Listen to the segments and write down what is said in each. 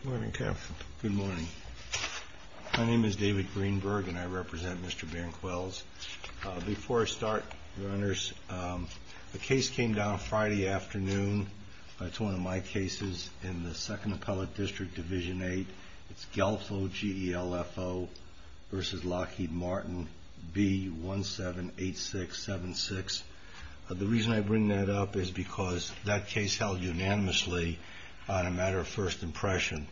Good morning, Captain. Good morning. My name is David Greenberg and I represent Mr. Banquels. Before I start, your honors, the case came down Friday afternoon. It's one of my cases in the 2nd Appellate District, Division 8. It's Guelfo, G-E-L-F-O, v. Lockheed Martin, B-178676. The reason I bring that up is because that case held unanimously on a matter of first impression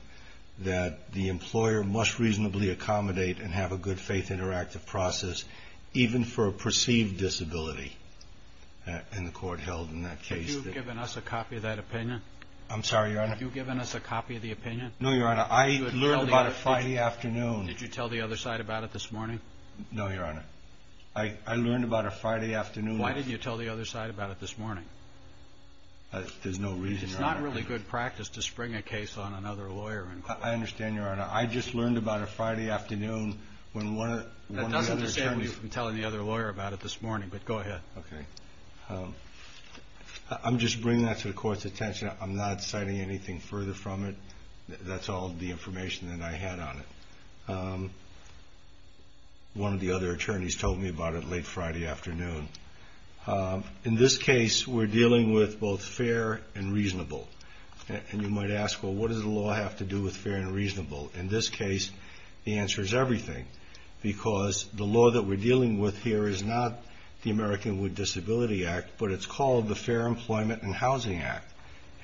that the employer must reasonably accommodate and have a good faith interactive process even for a perceived disability, and the court held in that case that... Have you given us a copy of that opinion? I'm sorry, your honor? Have you given us a copy of the opinion? No, your honor. I learned about it Friday afternoon. Did you tell the other side about it this morning? No, your honor. I learned about it Friday afternoon. Why didn't you tell the other side about it this morning? There's no reason, your honor. It's not really good practice to spring a case on another lawyer in court. I understand, your honor. I just learned about it Friday afternoon when one of the other attorneys... That doesn't disable you from telling the other lawyer about it this morning, but go ahead. Okay. I'm just bringing that to the court's attention. I'm not citing anything further from it. That's all the information that I had on it. One of the other attorneys told me about it late Friday afternoon. In this case, we're dealing with both fair and reasonable, and you might ask, well, what does the law have to do with fair and reasonable? In this case, the answer is everything, because the law that we're dealing with here is not the American with Disability Act, but it's called the Fair Employment and Housing Act,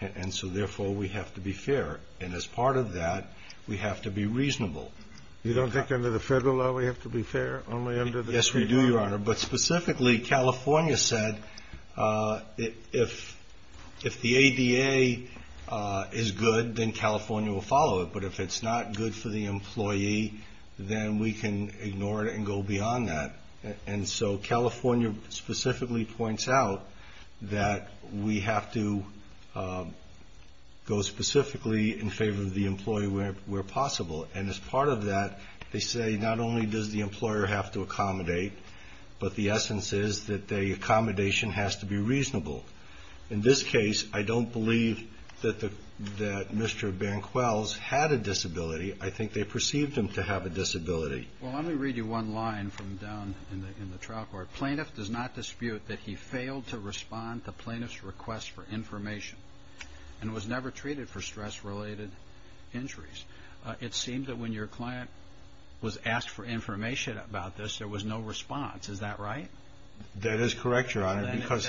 and so therefore we have to be fair, and as part of that, we have to be reasonable. You don't think under the federal law we have to be fair, only under the state law? Yes, we do, your honor, but specifically California said if the ADA is good, then California will follow it, but if it's not good for the employee, then we can ignore it and go beyond that, and so California specifically points out that we have to go specifically in favor of the employee where possible, and as part of that, they say not only does the employer have to accommodate, but the essence is that the accommodation has to be reasonable. In this case, I don't believe that Mr. Banquels had a disability. Well, let me read you one line from down in the trial court. Plaintiff does not dispute that he failed to respond to plaintiff's request for information and was never treated for stress-related injuries. It seemed that when your client was asked for information about this, there was no response. Is that right? That is correct, your honor.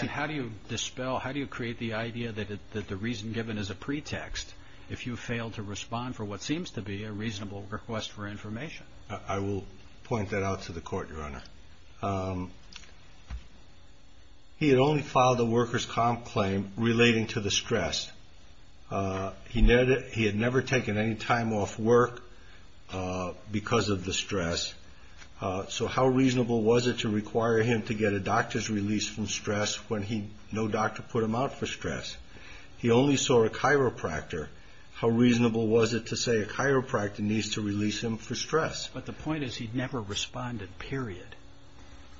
How do you create the idea that the reason given is a pretext I will point that out to the court, your honor. He had only filed a worker's comp claim relating to the stress. He had never taken any time off work because of the stress, so how reasonable was it to require him to get a doctor's release from stress when no doctor put him out for stress? He only saw a chiropractor. How reasonable was it to say a chiropractor needs to release him for stress? But the point is he never responded, period.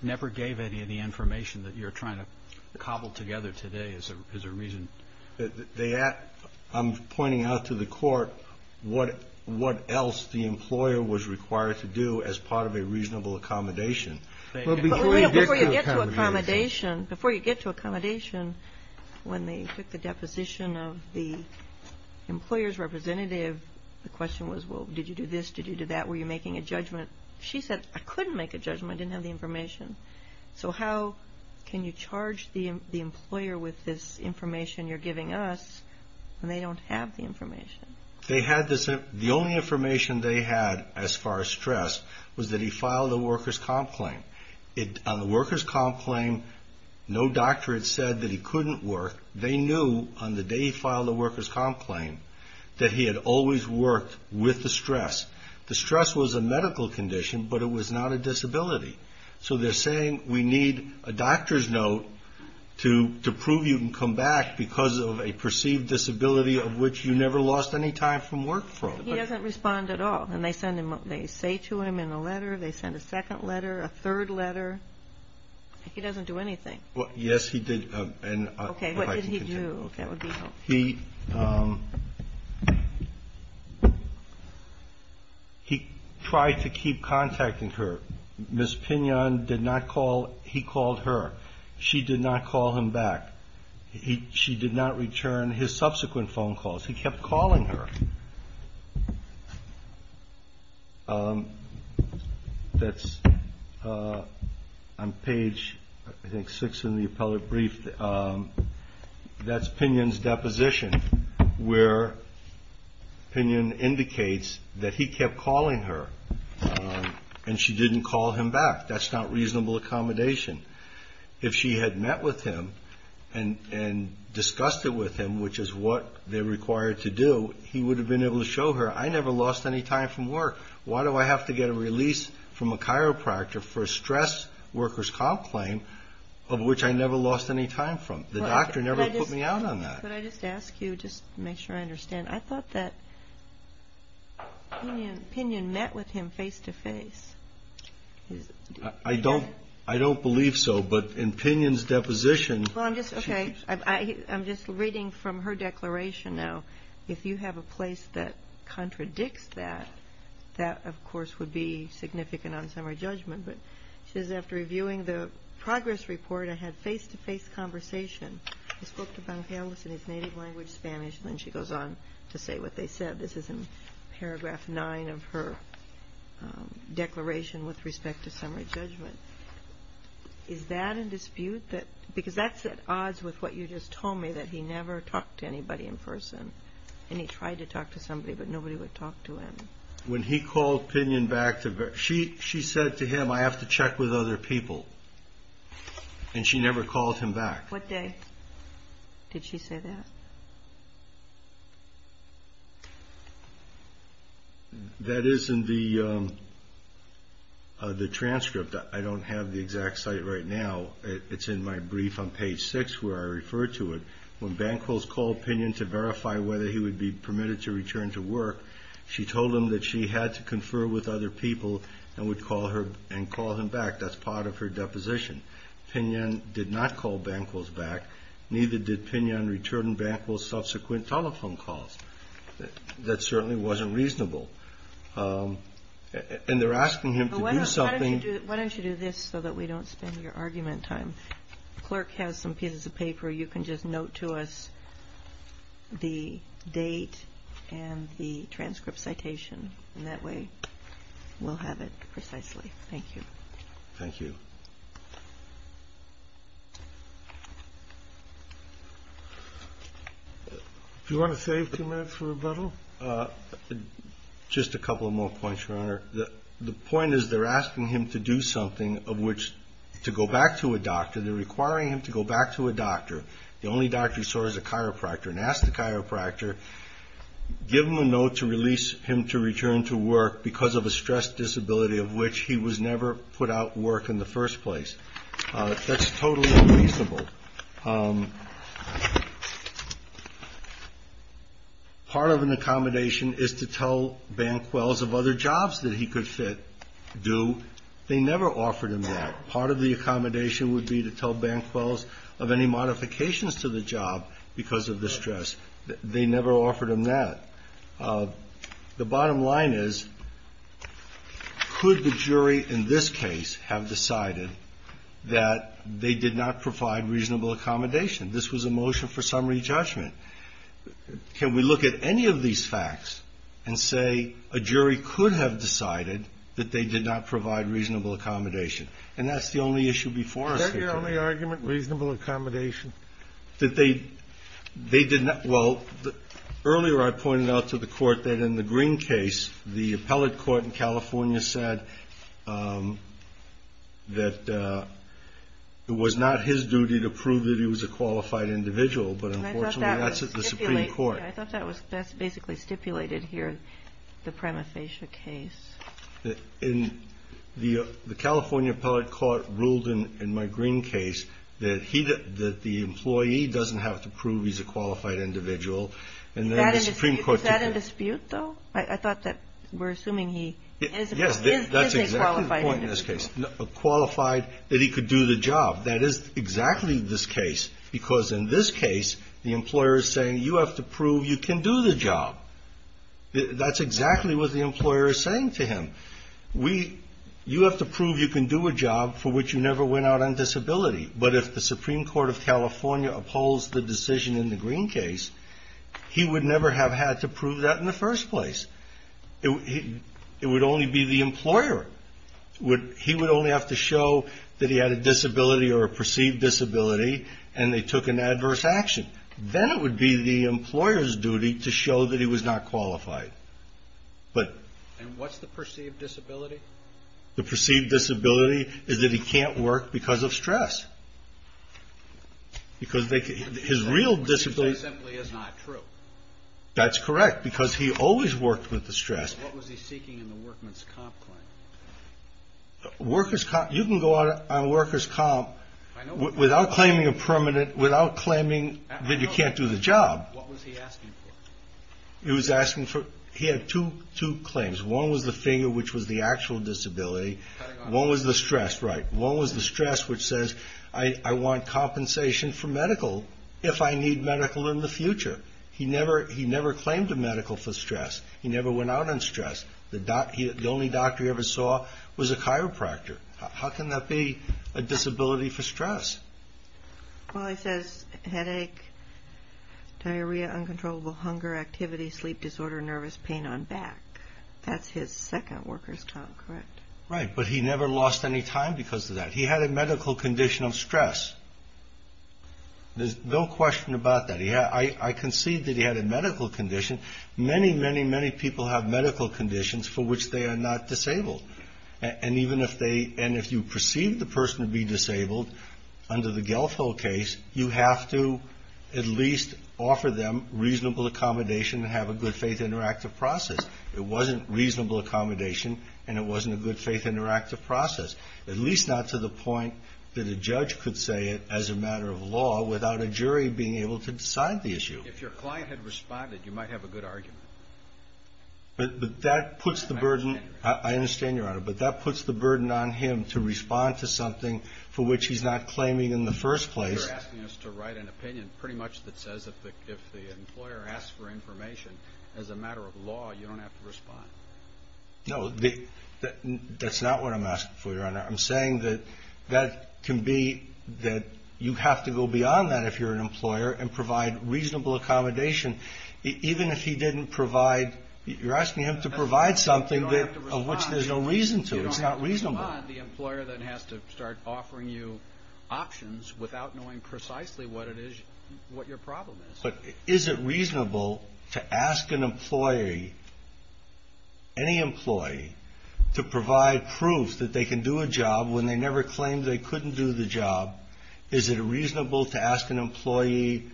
Never gave any of the information that you're trying to cobble together today is a reason. I'm pointing out to the court what else the employer was required to do as part of a reasonable accommodation. Before you get to accommodation, when they took the deposition of the employer's representative, the question was, well, did you do this? Did you do that? Were you making a judgment? She said, I couldn't make a judgment. I didn't have the information. So how can you charge the employer with this information you're giving us when they don't have the information? The only information they had as far as stress was that he filed a worker's comp claim. On the worker's comp claim, no doctor had said that he couldn't work. They knew on the day he filed the worker's comp claim that he had always worked with the stress. The stress was a medical condition, but it was not a disability. So they're saying we need a doctor's note to prove you can come back because of a perceived disability of which you never lost any time from work. He doesn't respond at all. They say to him in a letter, they send a second letter, a third letter. He doesn't do anything. Yes, he did. Okay. What did he do? He tried to keep contacting her. Ms. Pignon did not call. He called her. She did not call him back. She did not return his subsequent phone calls. He kept calling her. That's on page, I think, six in the appellate brief. That's Pignon's deposition where Pignon indicates that he kept calling her, and she didn't call him back. That's not reasonable accommodation. If she had met with him and discussed it with him, which is what they're required to do, he would have been able to show her, I never lost any time from work. Why do I have to get a release from a chiropractor for a stress worker's comp claim of which I never lost any time from? The doctor never put me out on that. Could I just ask you, just to make sure I understand, I thought that Pignon met with him face to face. I don't believe so, but in Pignon's deposition. Okay. I'm just reading from her declaration now. If you have a place that contradicts that, that, of course, would be significant on summary judgment. But she says, after reviewing the progress report, I had face-to-face conversation. I spoke to Vangelis in his native language, Spanish, and then she goes on to say what they said. This is in paragraph nine of her declaration with respect to summary judgment. Is that in dispute? Because that's at odds with what you just told me, that he never talked to anybody in person. And he tried to talk to somebody, but nobody would talk to him. When he called Pignon back, she said to him, I have to check with other people. And she never called him back. What day did she say that? That is in the transcript. I don't have the exact site right now. It's in my brief on page six where I refer to it. When Banquos called Pignon to verify whether he would be permitted to return to work, she told him that she had to confer with other people and call him back. That's part of her deposition. Pignon did not call Banquos back. Neither did Pignon return Banquos' subsequent telephone calls. That certainly wasn't reasonable. And they're asking him to do something. Why don't you do this so that we don't spend your argument time? The clerk has some pieces of paper. You can just note to us the date and the transcript citation. And that way we'll have it precisely. Thank you. Thank you. Do you want to save two minutes for rebuttal? Just a couple more points, Your Honor. The point is they're asking him to do something of which to go back to a doctor. They're requiring him to go back to a doctor. The only doctor he saw was a chiropractor. And ask the chiropractor, give him a note to release him to return to work because of a stress disability of which he was never put out of work in the first place. That's totally unreasonable. Part of an accommodation is to tell Banquos of other jobs that he could do. They never offered him that. Part of the accommodation would be to tell Banquos of any modifications to the job because of the stress. They never offered him that. The bottom line is, could the jury in this case have decided that they did not provide reasonable accommodation? This was a motion for summary judgment. Can we look at any of these facts and say a jury could have decided that they did not provide reasonable accommodation? And that's the only issue before us. Is that your only argument, reasonable accommodation? Well, earlier I pointed out to the court that in the Green case, the appellate court in California said that it was not his duty to prove that he was a qualified individual, but unfortunately that's the Supreme Court. I thought that was basically stipulated here in the Pramathesha case. The California appellate court ruled in my Green case that the employee doesn't have to prove he's a qualified individual. Is that a dispute, though? I thought that we're assuming he is a qualified individual. Yes, that's exactly the point in this case. Qualified that he could do the job. That is exactly this case because in this case the employer is saying you have to prove you can do the job. That's exactly what the employer is saying to him. You have to prove you can do a job for which you never went out on disability. But if the Supreme Court of California upholds the decision in the Green case, he would never have had to prove that in the first place. It would only be the employer. He would only have to show that he had a disability or a perceived disability and they took an adverse action. Then it would be the employer's duty to show that he was not qualified. And what's the perceived disability? The perceived disability is that he can't work because of stress. Because his real disability is not true. That's correct because he always worked with the stress. What was he seeking in the workman's comp claim? You can go out on worker's comp without claiming a permanent, without claiming that you can't do the job. What was he asking for? He had two claims. One was the finger which was the actual disability. One was the stress, right. One was the stress which says I want compensation for medical if I need medical in the future. He never claimed to medical for stress. He never went out on stress. The only doctor he ever saw was a chiropractor. How can that be a disability for stress? Well, it says headache, diarrhea, uncontrollable hunger, activity, sleep disorder, nervous pain on back. That's his second worker's comp, correct? Right, but he never lost any time because of that. He had a medical condition of stress. There's no question about that. I concede that he had a medical condition. Many, many, many people have medical conditions for which they are not disabled. And even if they, and if you perceive the person to be disabled under the Guelfo case, you have to at least offer them reasonable accommodation and have a good faith interactive process. It wasn't reasonable accommodation and it wasn't a good faith interactive process, at least not to the point that a judge could say it as a matter of law without a jury being able to decide the issue. If your client had responded, you might have a good argument. But that puts the burden. I understand, Your Honor. But that puts the burden on him to respond to something for which he's not claiming in the first place. You're asking us to write an opinion pretty much that says if the employer asks for information as a matter of law, you don't have to respond. I'm saying that that can be that you have to go beyond that if you're an employer and provide reasonable accommodation. Even if he didn't provide, you're asking him to provide something that, of which there's no reason to. You don't have to respond. The employer then has to start offering you options without knowing precisely what it is, what your problem is. But is it reasonable to ask an employee, any employee, to provide proof that they can do a job when they never claimed they couldn't do the job? Is it reasonable to ask an employee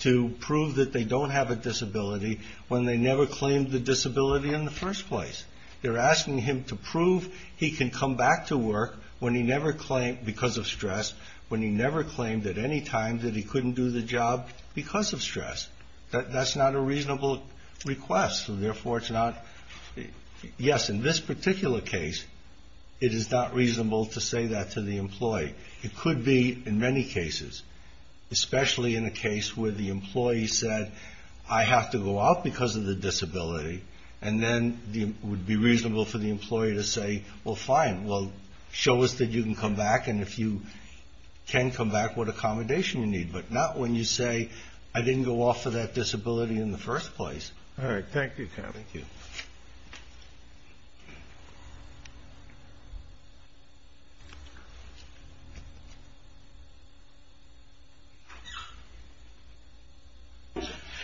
to prove that they don't have a disability when they never claimed the disability in the first place? You're asking him to prove he can come back to work when he never claimed because of stress, when he never claimed at any time that he couldn't do the job because of stress. That's not a reasonable request. Therefore, it's not. Yes, in this particular case, it is not reasonable to say that to the employee. It could be in many cases, especially in a case where the employee said, I have to go out because of the disability. And then it would be reasonable for the employee to say, well, fine. Well, show us that you can come back. And if you can come back, what accommodation you need. But not when you say, I didn't go off for that disability in the first place. All right. Thank you, Kevin. Thank you.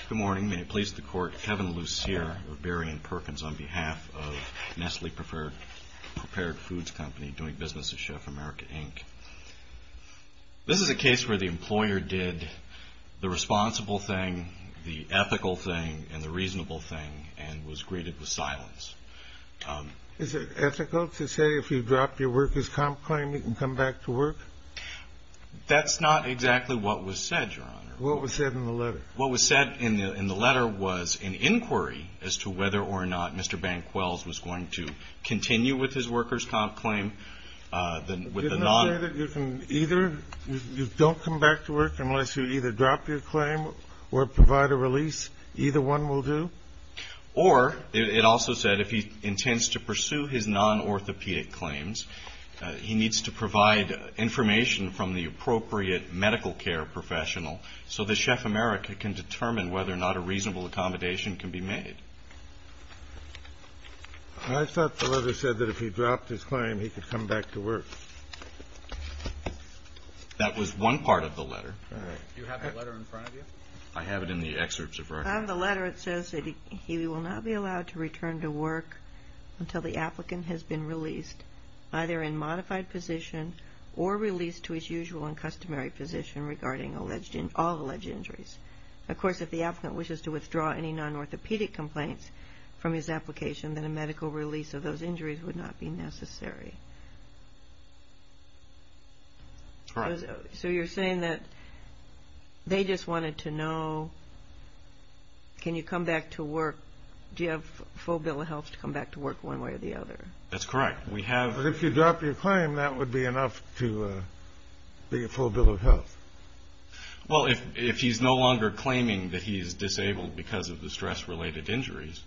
Good morning. May it please the Court. Kevin Lucere of Berrien Perkins on behalf of Nestle Prepared Foods Company, doing business with Chef America, Inc. This is a case where the employer did the responsible thing, the ethical thing, and the reasonable thing, and was greeted with silence. Is it ethical to say if you drop your workers' comp claim, you can come back to work? That's not exactly what was said, Your Honor. What was said in the letter? What was said in the letter was an inquiry as to whether or not Mr. Banquels was going to continue with his workers' comp claim with a non- Didn't it say that you can either, you don't come back to work unless you either drop your claim or provide a release, either one will do? Or it also said if he intends to pursue his non-orthopedic claims, he needs to provide information from the appropriate medical care professional so that Chef America can determine whether or not a reasonable accommodation can be made. I thought the letter said that if he dropped his claim, he could come back to work. That was one part of the letter. Do you have the letter in front of you? I have it in the excerpts of record. On the letter, it says that he will not be allowed to return to work until the applicant has been released, either in modified position or released to his usual and customary position regarding all alleged injuries. Of course, if the applicant wishes to withdraw any non-orthopedic complaints from his application, then a medical release of those injuries would not be necessary. Correct. So you're saying that they just wanted to know, can you come back to work, do you have full bill of health to come back to work one way or the other? That's correct. If you drop your claim, that would be enough to be a full bill of health. Well, if he's no longer claiming that he is disabled because of the stress-related injuries,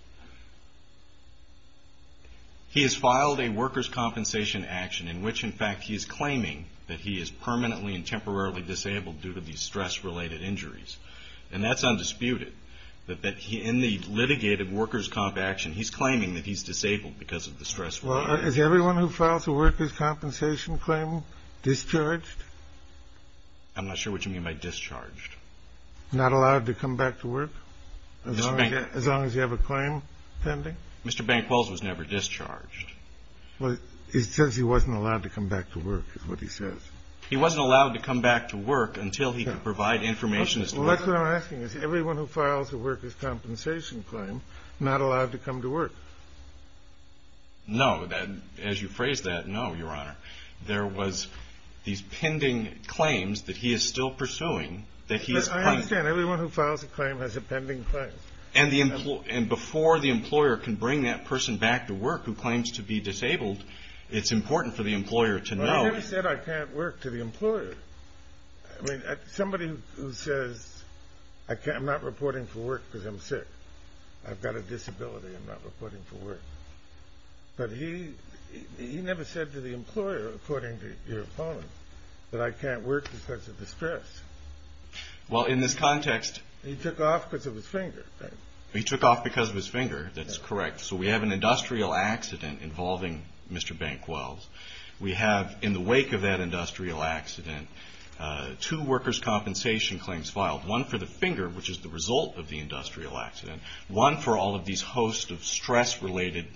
he has filed a workers' compensation action in which, in fact, he is claiming that he is permanently and temporarily disabled due to these stress-related injuries. And that's undisputed, that in the litigated workers' comp action, he's claiming that he's disabled because of the stress-related injuries. Well, is everyone who files a workers' compensation claim discharged? I'm not sure what you mean by discharged. Not allowed to come back to work as long as you have a claim pending? Mr. Banquels was never discharged. Well, it says he wasn't allowed to come back to work is what he says. He wasn't allowed to come back to work until he could provide information. Well, that's what I'm asking. Is everyone who files a workers' compensation claim not allowed to come to work? No. As you phrased that, no, Your Honor. There was these pending claims that he is still pursuing that he is claiming. I understand. Everyone who files a claim has a pending claim. And before the employer can bring that person back to work who claims to be disabled, it's important for the employer to know. Well, he never said, I can't work, to the employer. I mean, somebody who says, I'm not reporting for work because I'm sick. I've got a disability. I'm not reporting for work. But he never said to the employer, according to your opponent, that I can't work because of the stress. Well, in this context. He took off because of his finger. He took off because of his finger. That's correct. So we have an industrial accident involving Mr. Banquels. We have, in the wake of that industrial accident, two workers' compensation claims filed, one for the finger, which is the result of the industrial accident, one for all of these hosts of stress-related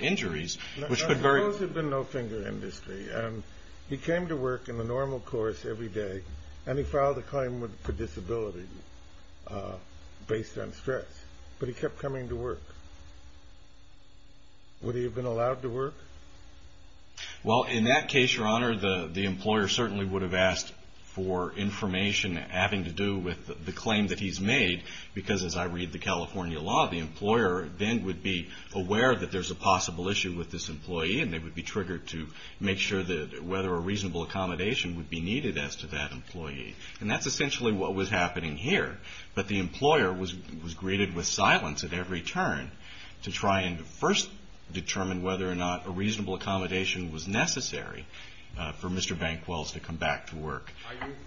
injuries, which could very. Those have been no finger industry. He came to work in the normal course every day, and he filed a claim for disability based on stress. But he kept coming to work. Would he have been allowed to work? Well, in that case, Your Honor, the employer certainly would have asked for information having to do with the claim that he's made because, as I read the California law, the employer then would be aware that there's a possible issue with this employee, and they would be triggered to make sure that whether a reasonable accommodation would be needed as to that employee. And that's essentially what was happening here. But the employer was greeted with silence at every turn to try and first determine whether or not a reasonable accommodation was necessary for Mr. Banquels to come back to work.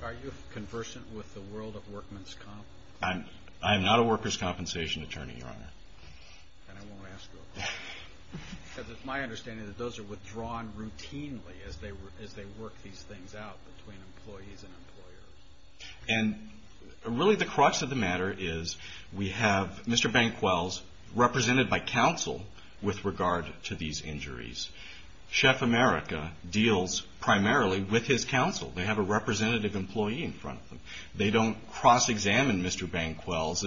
Are you conversant with the world of workman's comp? I am not a worker's compensation attorney, Your Honor. Then I won't ask you. Because it's my understanding that those are withdrawn routinely as they work these things out between employees and employers. And really the crux of the matter is we have Mr. Banquels represented by counsel with regard to these injuries. Chef America deals primarily with his counsel. They have a representative employee in front of them. They don't cross-examine Mr. Banquels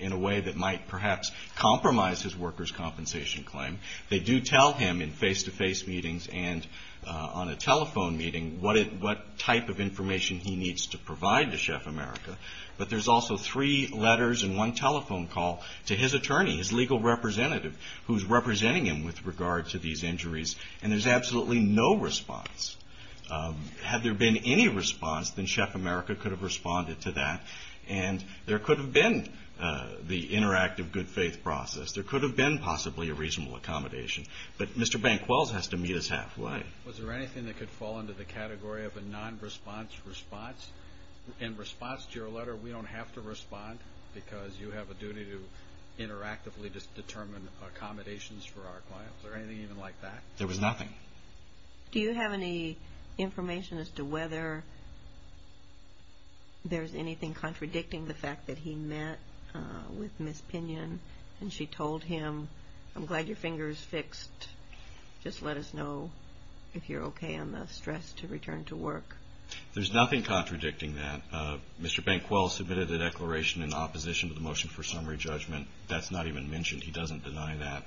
in a way that might perhaps compromise his worker's compensation claim. They do tell him in face-to-face meetings and on a telephone meeting what type of information he needs to provide to Chef America. But there's also three letters and one telephone call to his attorney, his legal representative, who's representing him with regard to these injuries, and there's absolutely no response. Had there been any response, then Chef America could have responded to that, and there could have been the interactive good-faith process. There could have been possibly a reasonable accommodation. But Mr. Banquels has to meet us halfway. Was there anything that could fall into the category of a non-response response? In response to your letter, we don't have to respond because you have a duty to interactively determine accommodations for our clients. Was there anything even like that? There was nothing. Okay. Do you have any information as to whether there's anything contradicting the fact that he met with Ms. Pinion, and she told him, I'm glad your finger is fixed. Just let us know if you're okay on the stress to return to work. There's nothing contradicting that. Mr. Banquels submitted a declaration in opposition to the motion for summary judgment. That's not even mentioned. He doesn't deny that.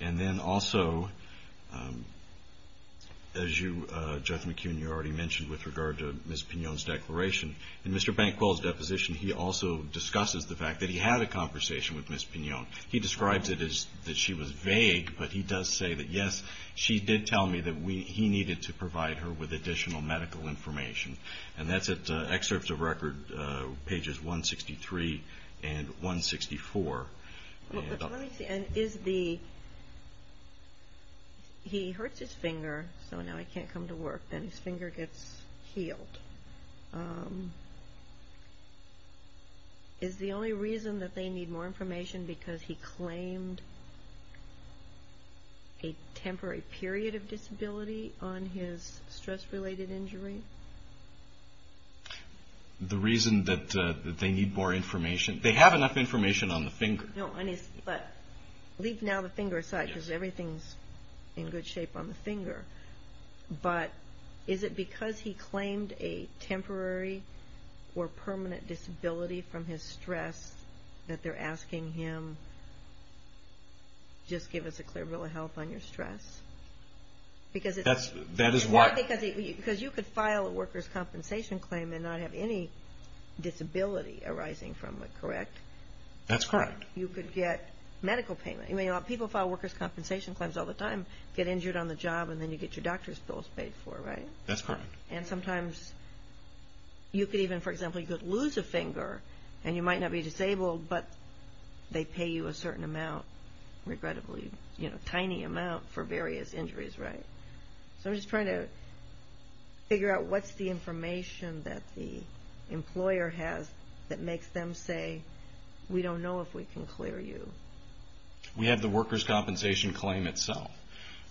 And then also, as Judge McKeown, you already mentioned with regard to Ms. Pinion's declaration, in Mr. Banquels' deposition he also discusses the fact that he had a conversation with Ms. Pinion. He describes it as that she was vague, but he does say that, yes, she did tell me that he needed to provide her with additional medical information. And that's at excerpts of record pages 163 and 164. Let me see. And is the – he hurts his finger, so now he can't come to work, and his finger gets healed. Is the only reason that they need more information because he claimed a temporary period of disability on his stress-related injury? The reason that they need more information – they have enough information on the finger. No, but leave now the finger aside because everything's in good shape on the finger. But is it because he claimed a temporary or permanent disability from his stress that they're asking him, just give us a clear bill of health on your stress? Because it's – That is why – Because you could file a workers' compensation claim and not have any disability arising from it, correct? That's correct. You could get medical payment. People file workers' compensation claims all the time, get injured on the job, and then you get your doctor's bills paid for, right? That's correct. And sometimes you could even, for example, you could lose a finger, and you might not be disabled, but they pay you a certain amount, regrettably, a tiny amount for various injuries, right? So I'm just trying to figure out what's the information that the employer has that makes them say, we don't know if we can clear you. We have the workers' compensation claim itself,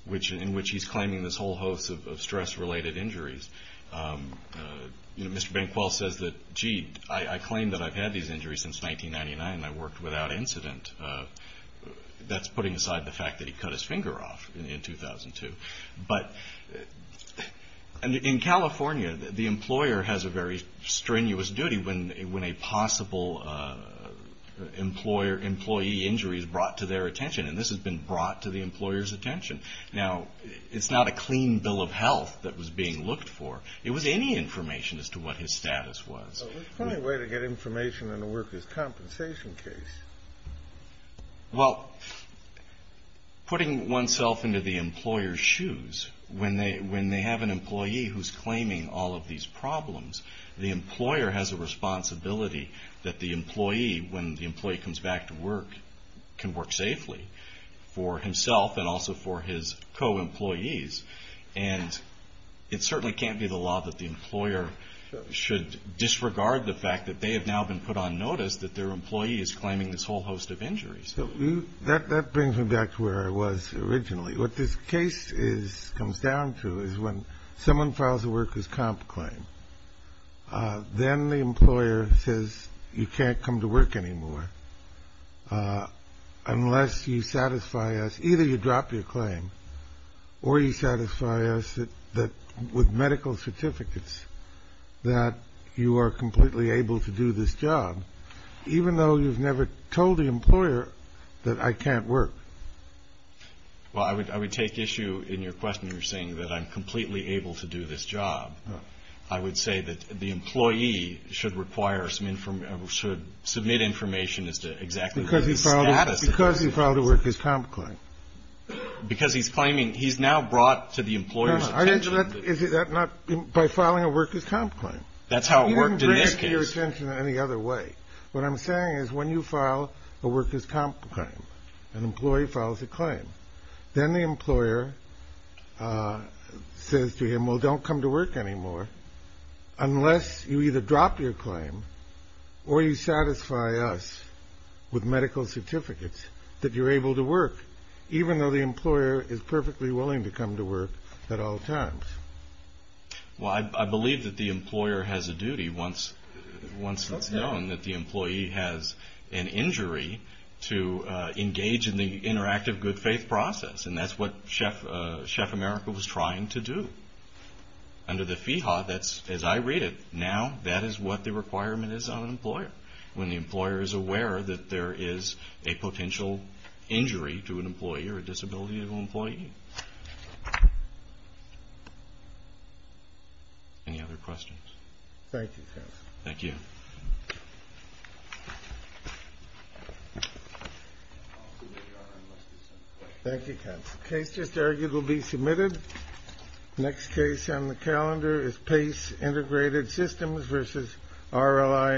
in which he's claiming this whole host of stress-related injuries. You know, Mr. Bankwell says that, gee, I claim that I've had these injuries since 1999, and I worked without incident. That's putting aside the fact that he cut his finger off in 2002. But in California, the employer has a very strenuous duty when a possible employee injury is brought to their attention, and this has been brought to the employer's attention. Now, it's not a clean bill of health that was being looked for. It was any information as to what his status was. The only way to get information in a workers' compensation case. Well, putting oneself into the employer's shoes, when they have an employee who's claiming all of these problems, the employer has a responsibility that the employee, when the employee comes back to work, can work safely for himself and also for his co-employees. And it certainly can't be the law that the employer should disregard the fact that they have now been put on notice that their employee is claiming this whole host of injuries. That brings me back to where I was originally. What this case comes down to is when someone files a workers' comp claim, then the employer says you can't come to work anymore unless you satisfy us. Or you satisfy us with medical certificates that you are completely able to do this job, even though you've never told the employer that I can't work. Well, I would take issue in your question. You're saying that I'm completely able to do this job. I would say that the employee should submit information as to exactly what his status is. Because he filed a workers' comp claim. Because he's claiming he's now brought to the employer's attention. Is that not by filing a workers' comp claim? That's how it worked in this case. You didn't bring it to your attention any other way. What I'm saying is when you file a workers' comp claim, an employee files a claim, then the employer says to him, well, don't come to work anymore unless you either drop your claim or you satisfy us with medical certificates that you're able to work, even though the employer is perfectly willing to come to work at all times. Well, I believe that the employer has a duty once it's known that the employee has an injury to engage in the interactive good faith process. And that's what Chef America was trying to do. Under the FEHA, as I read it now, that is what the requirement is on an employer, when the employer is aware that there is a potential injury to an employee or a disability to an employee. Any other questions? Thank you, counsel. Thank you. Case just argued will be submitted. Next case on the calendar is PACE Integrated Systems v. RLI Insurance.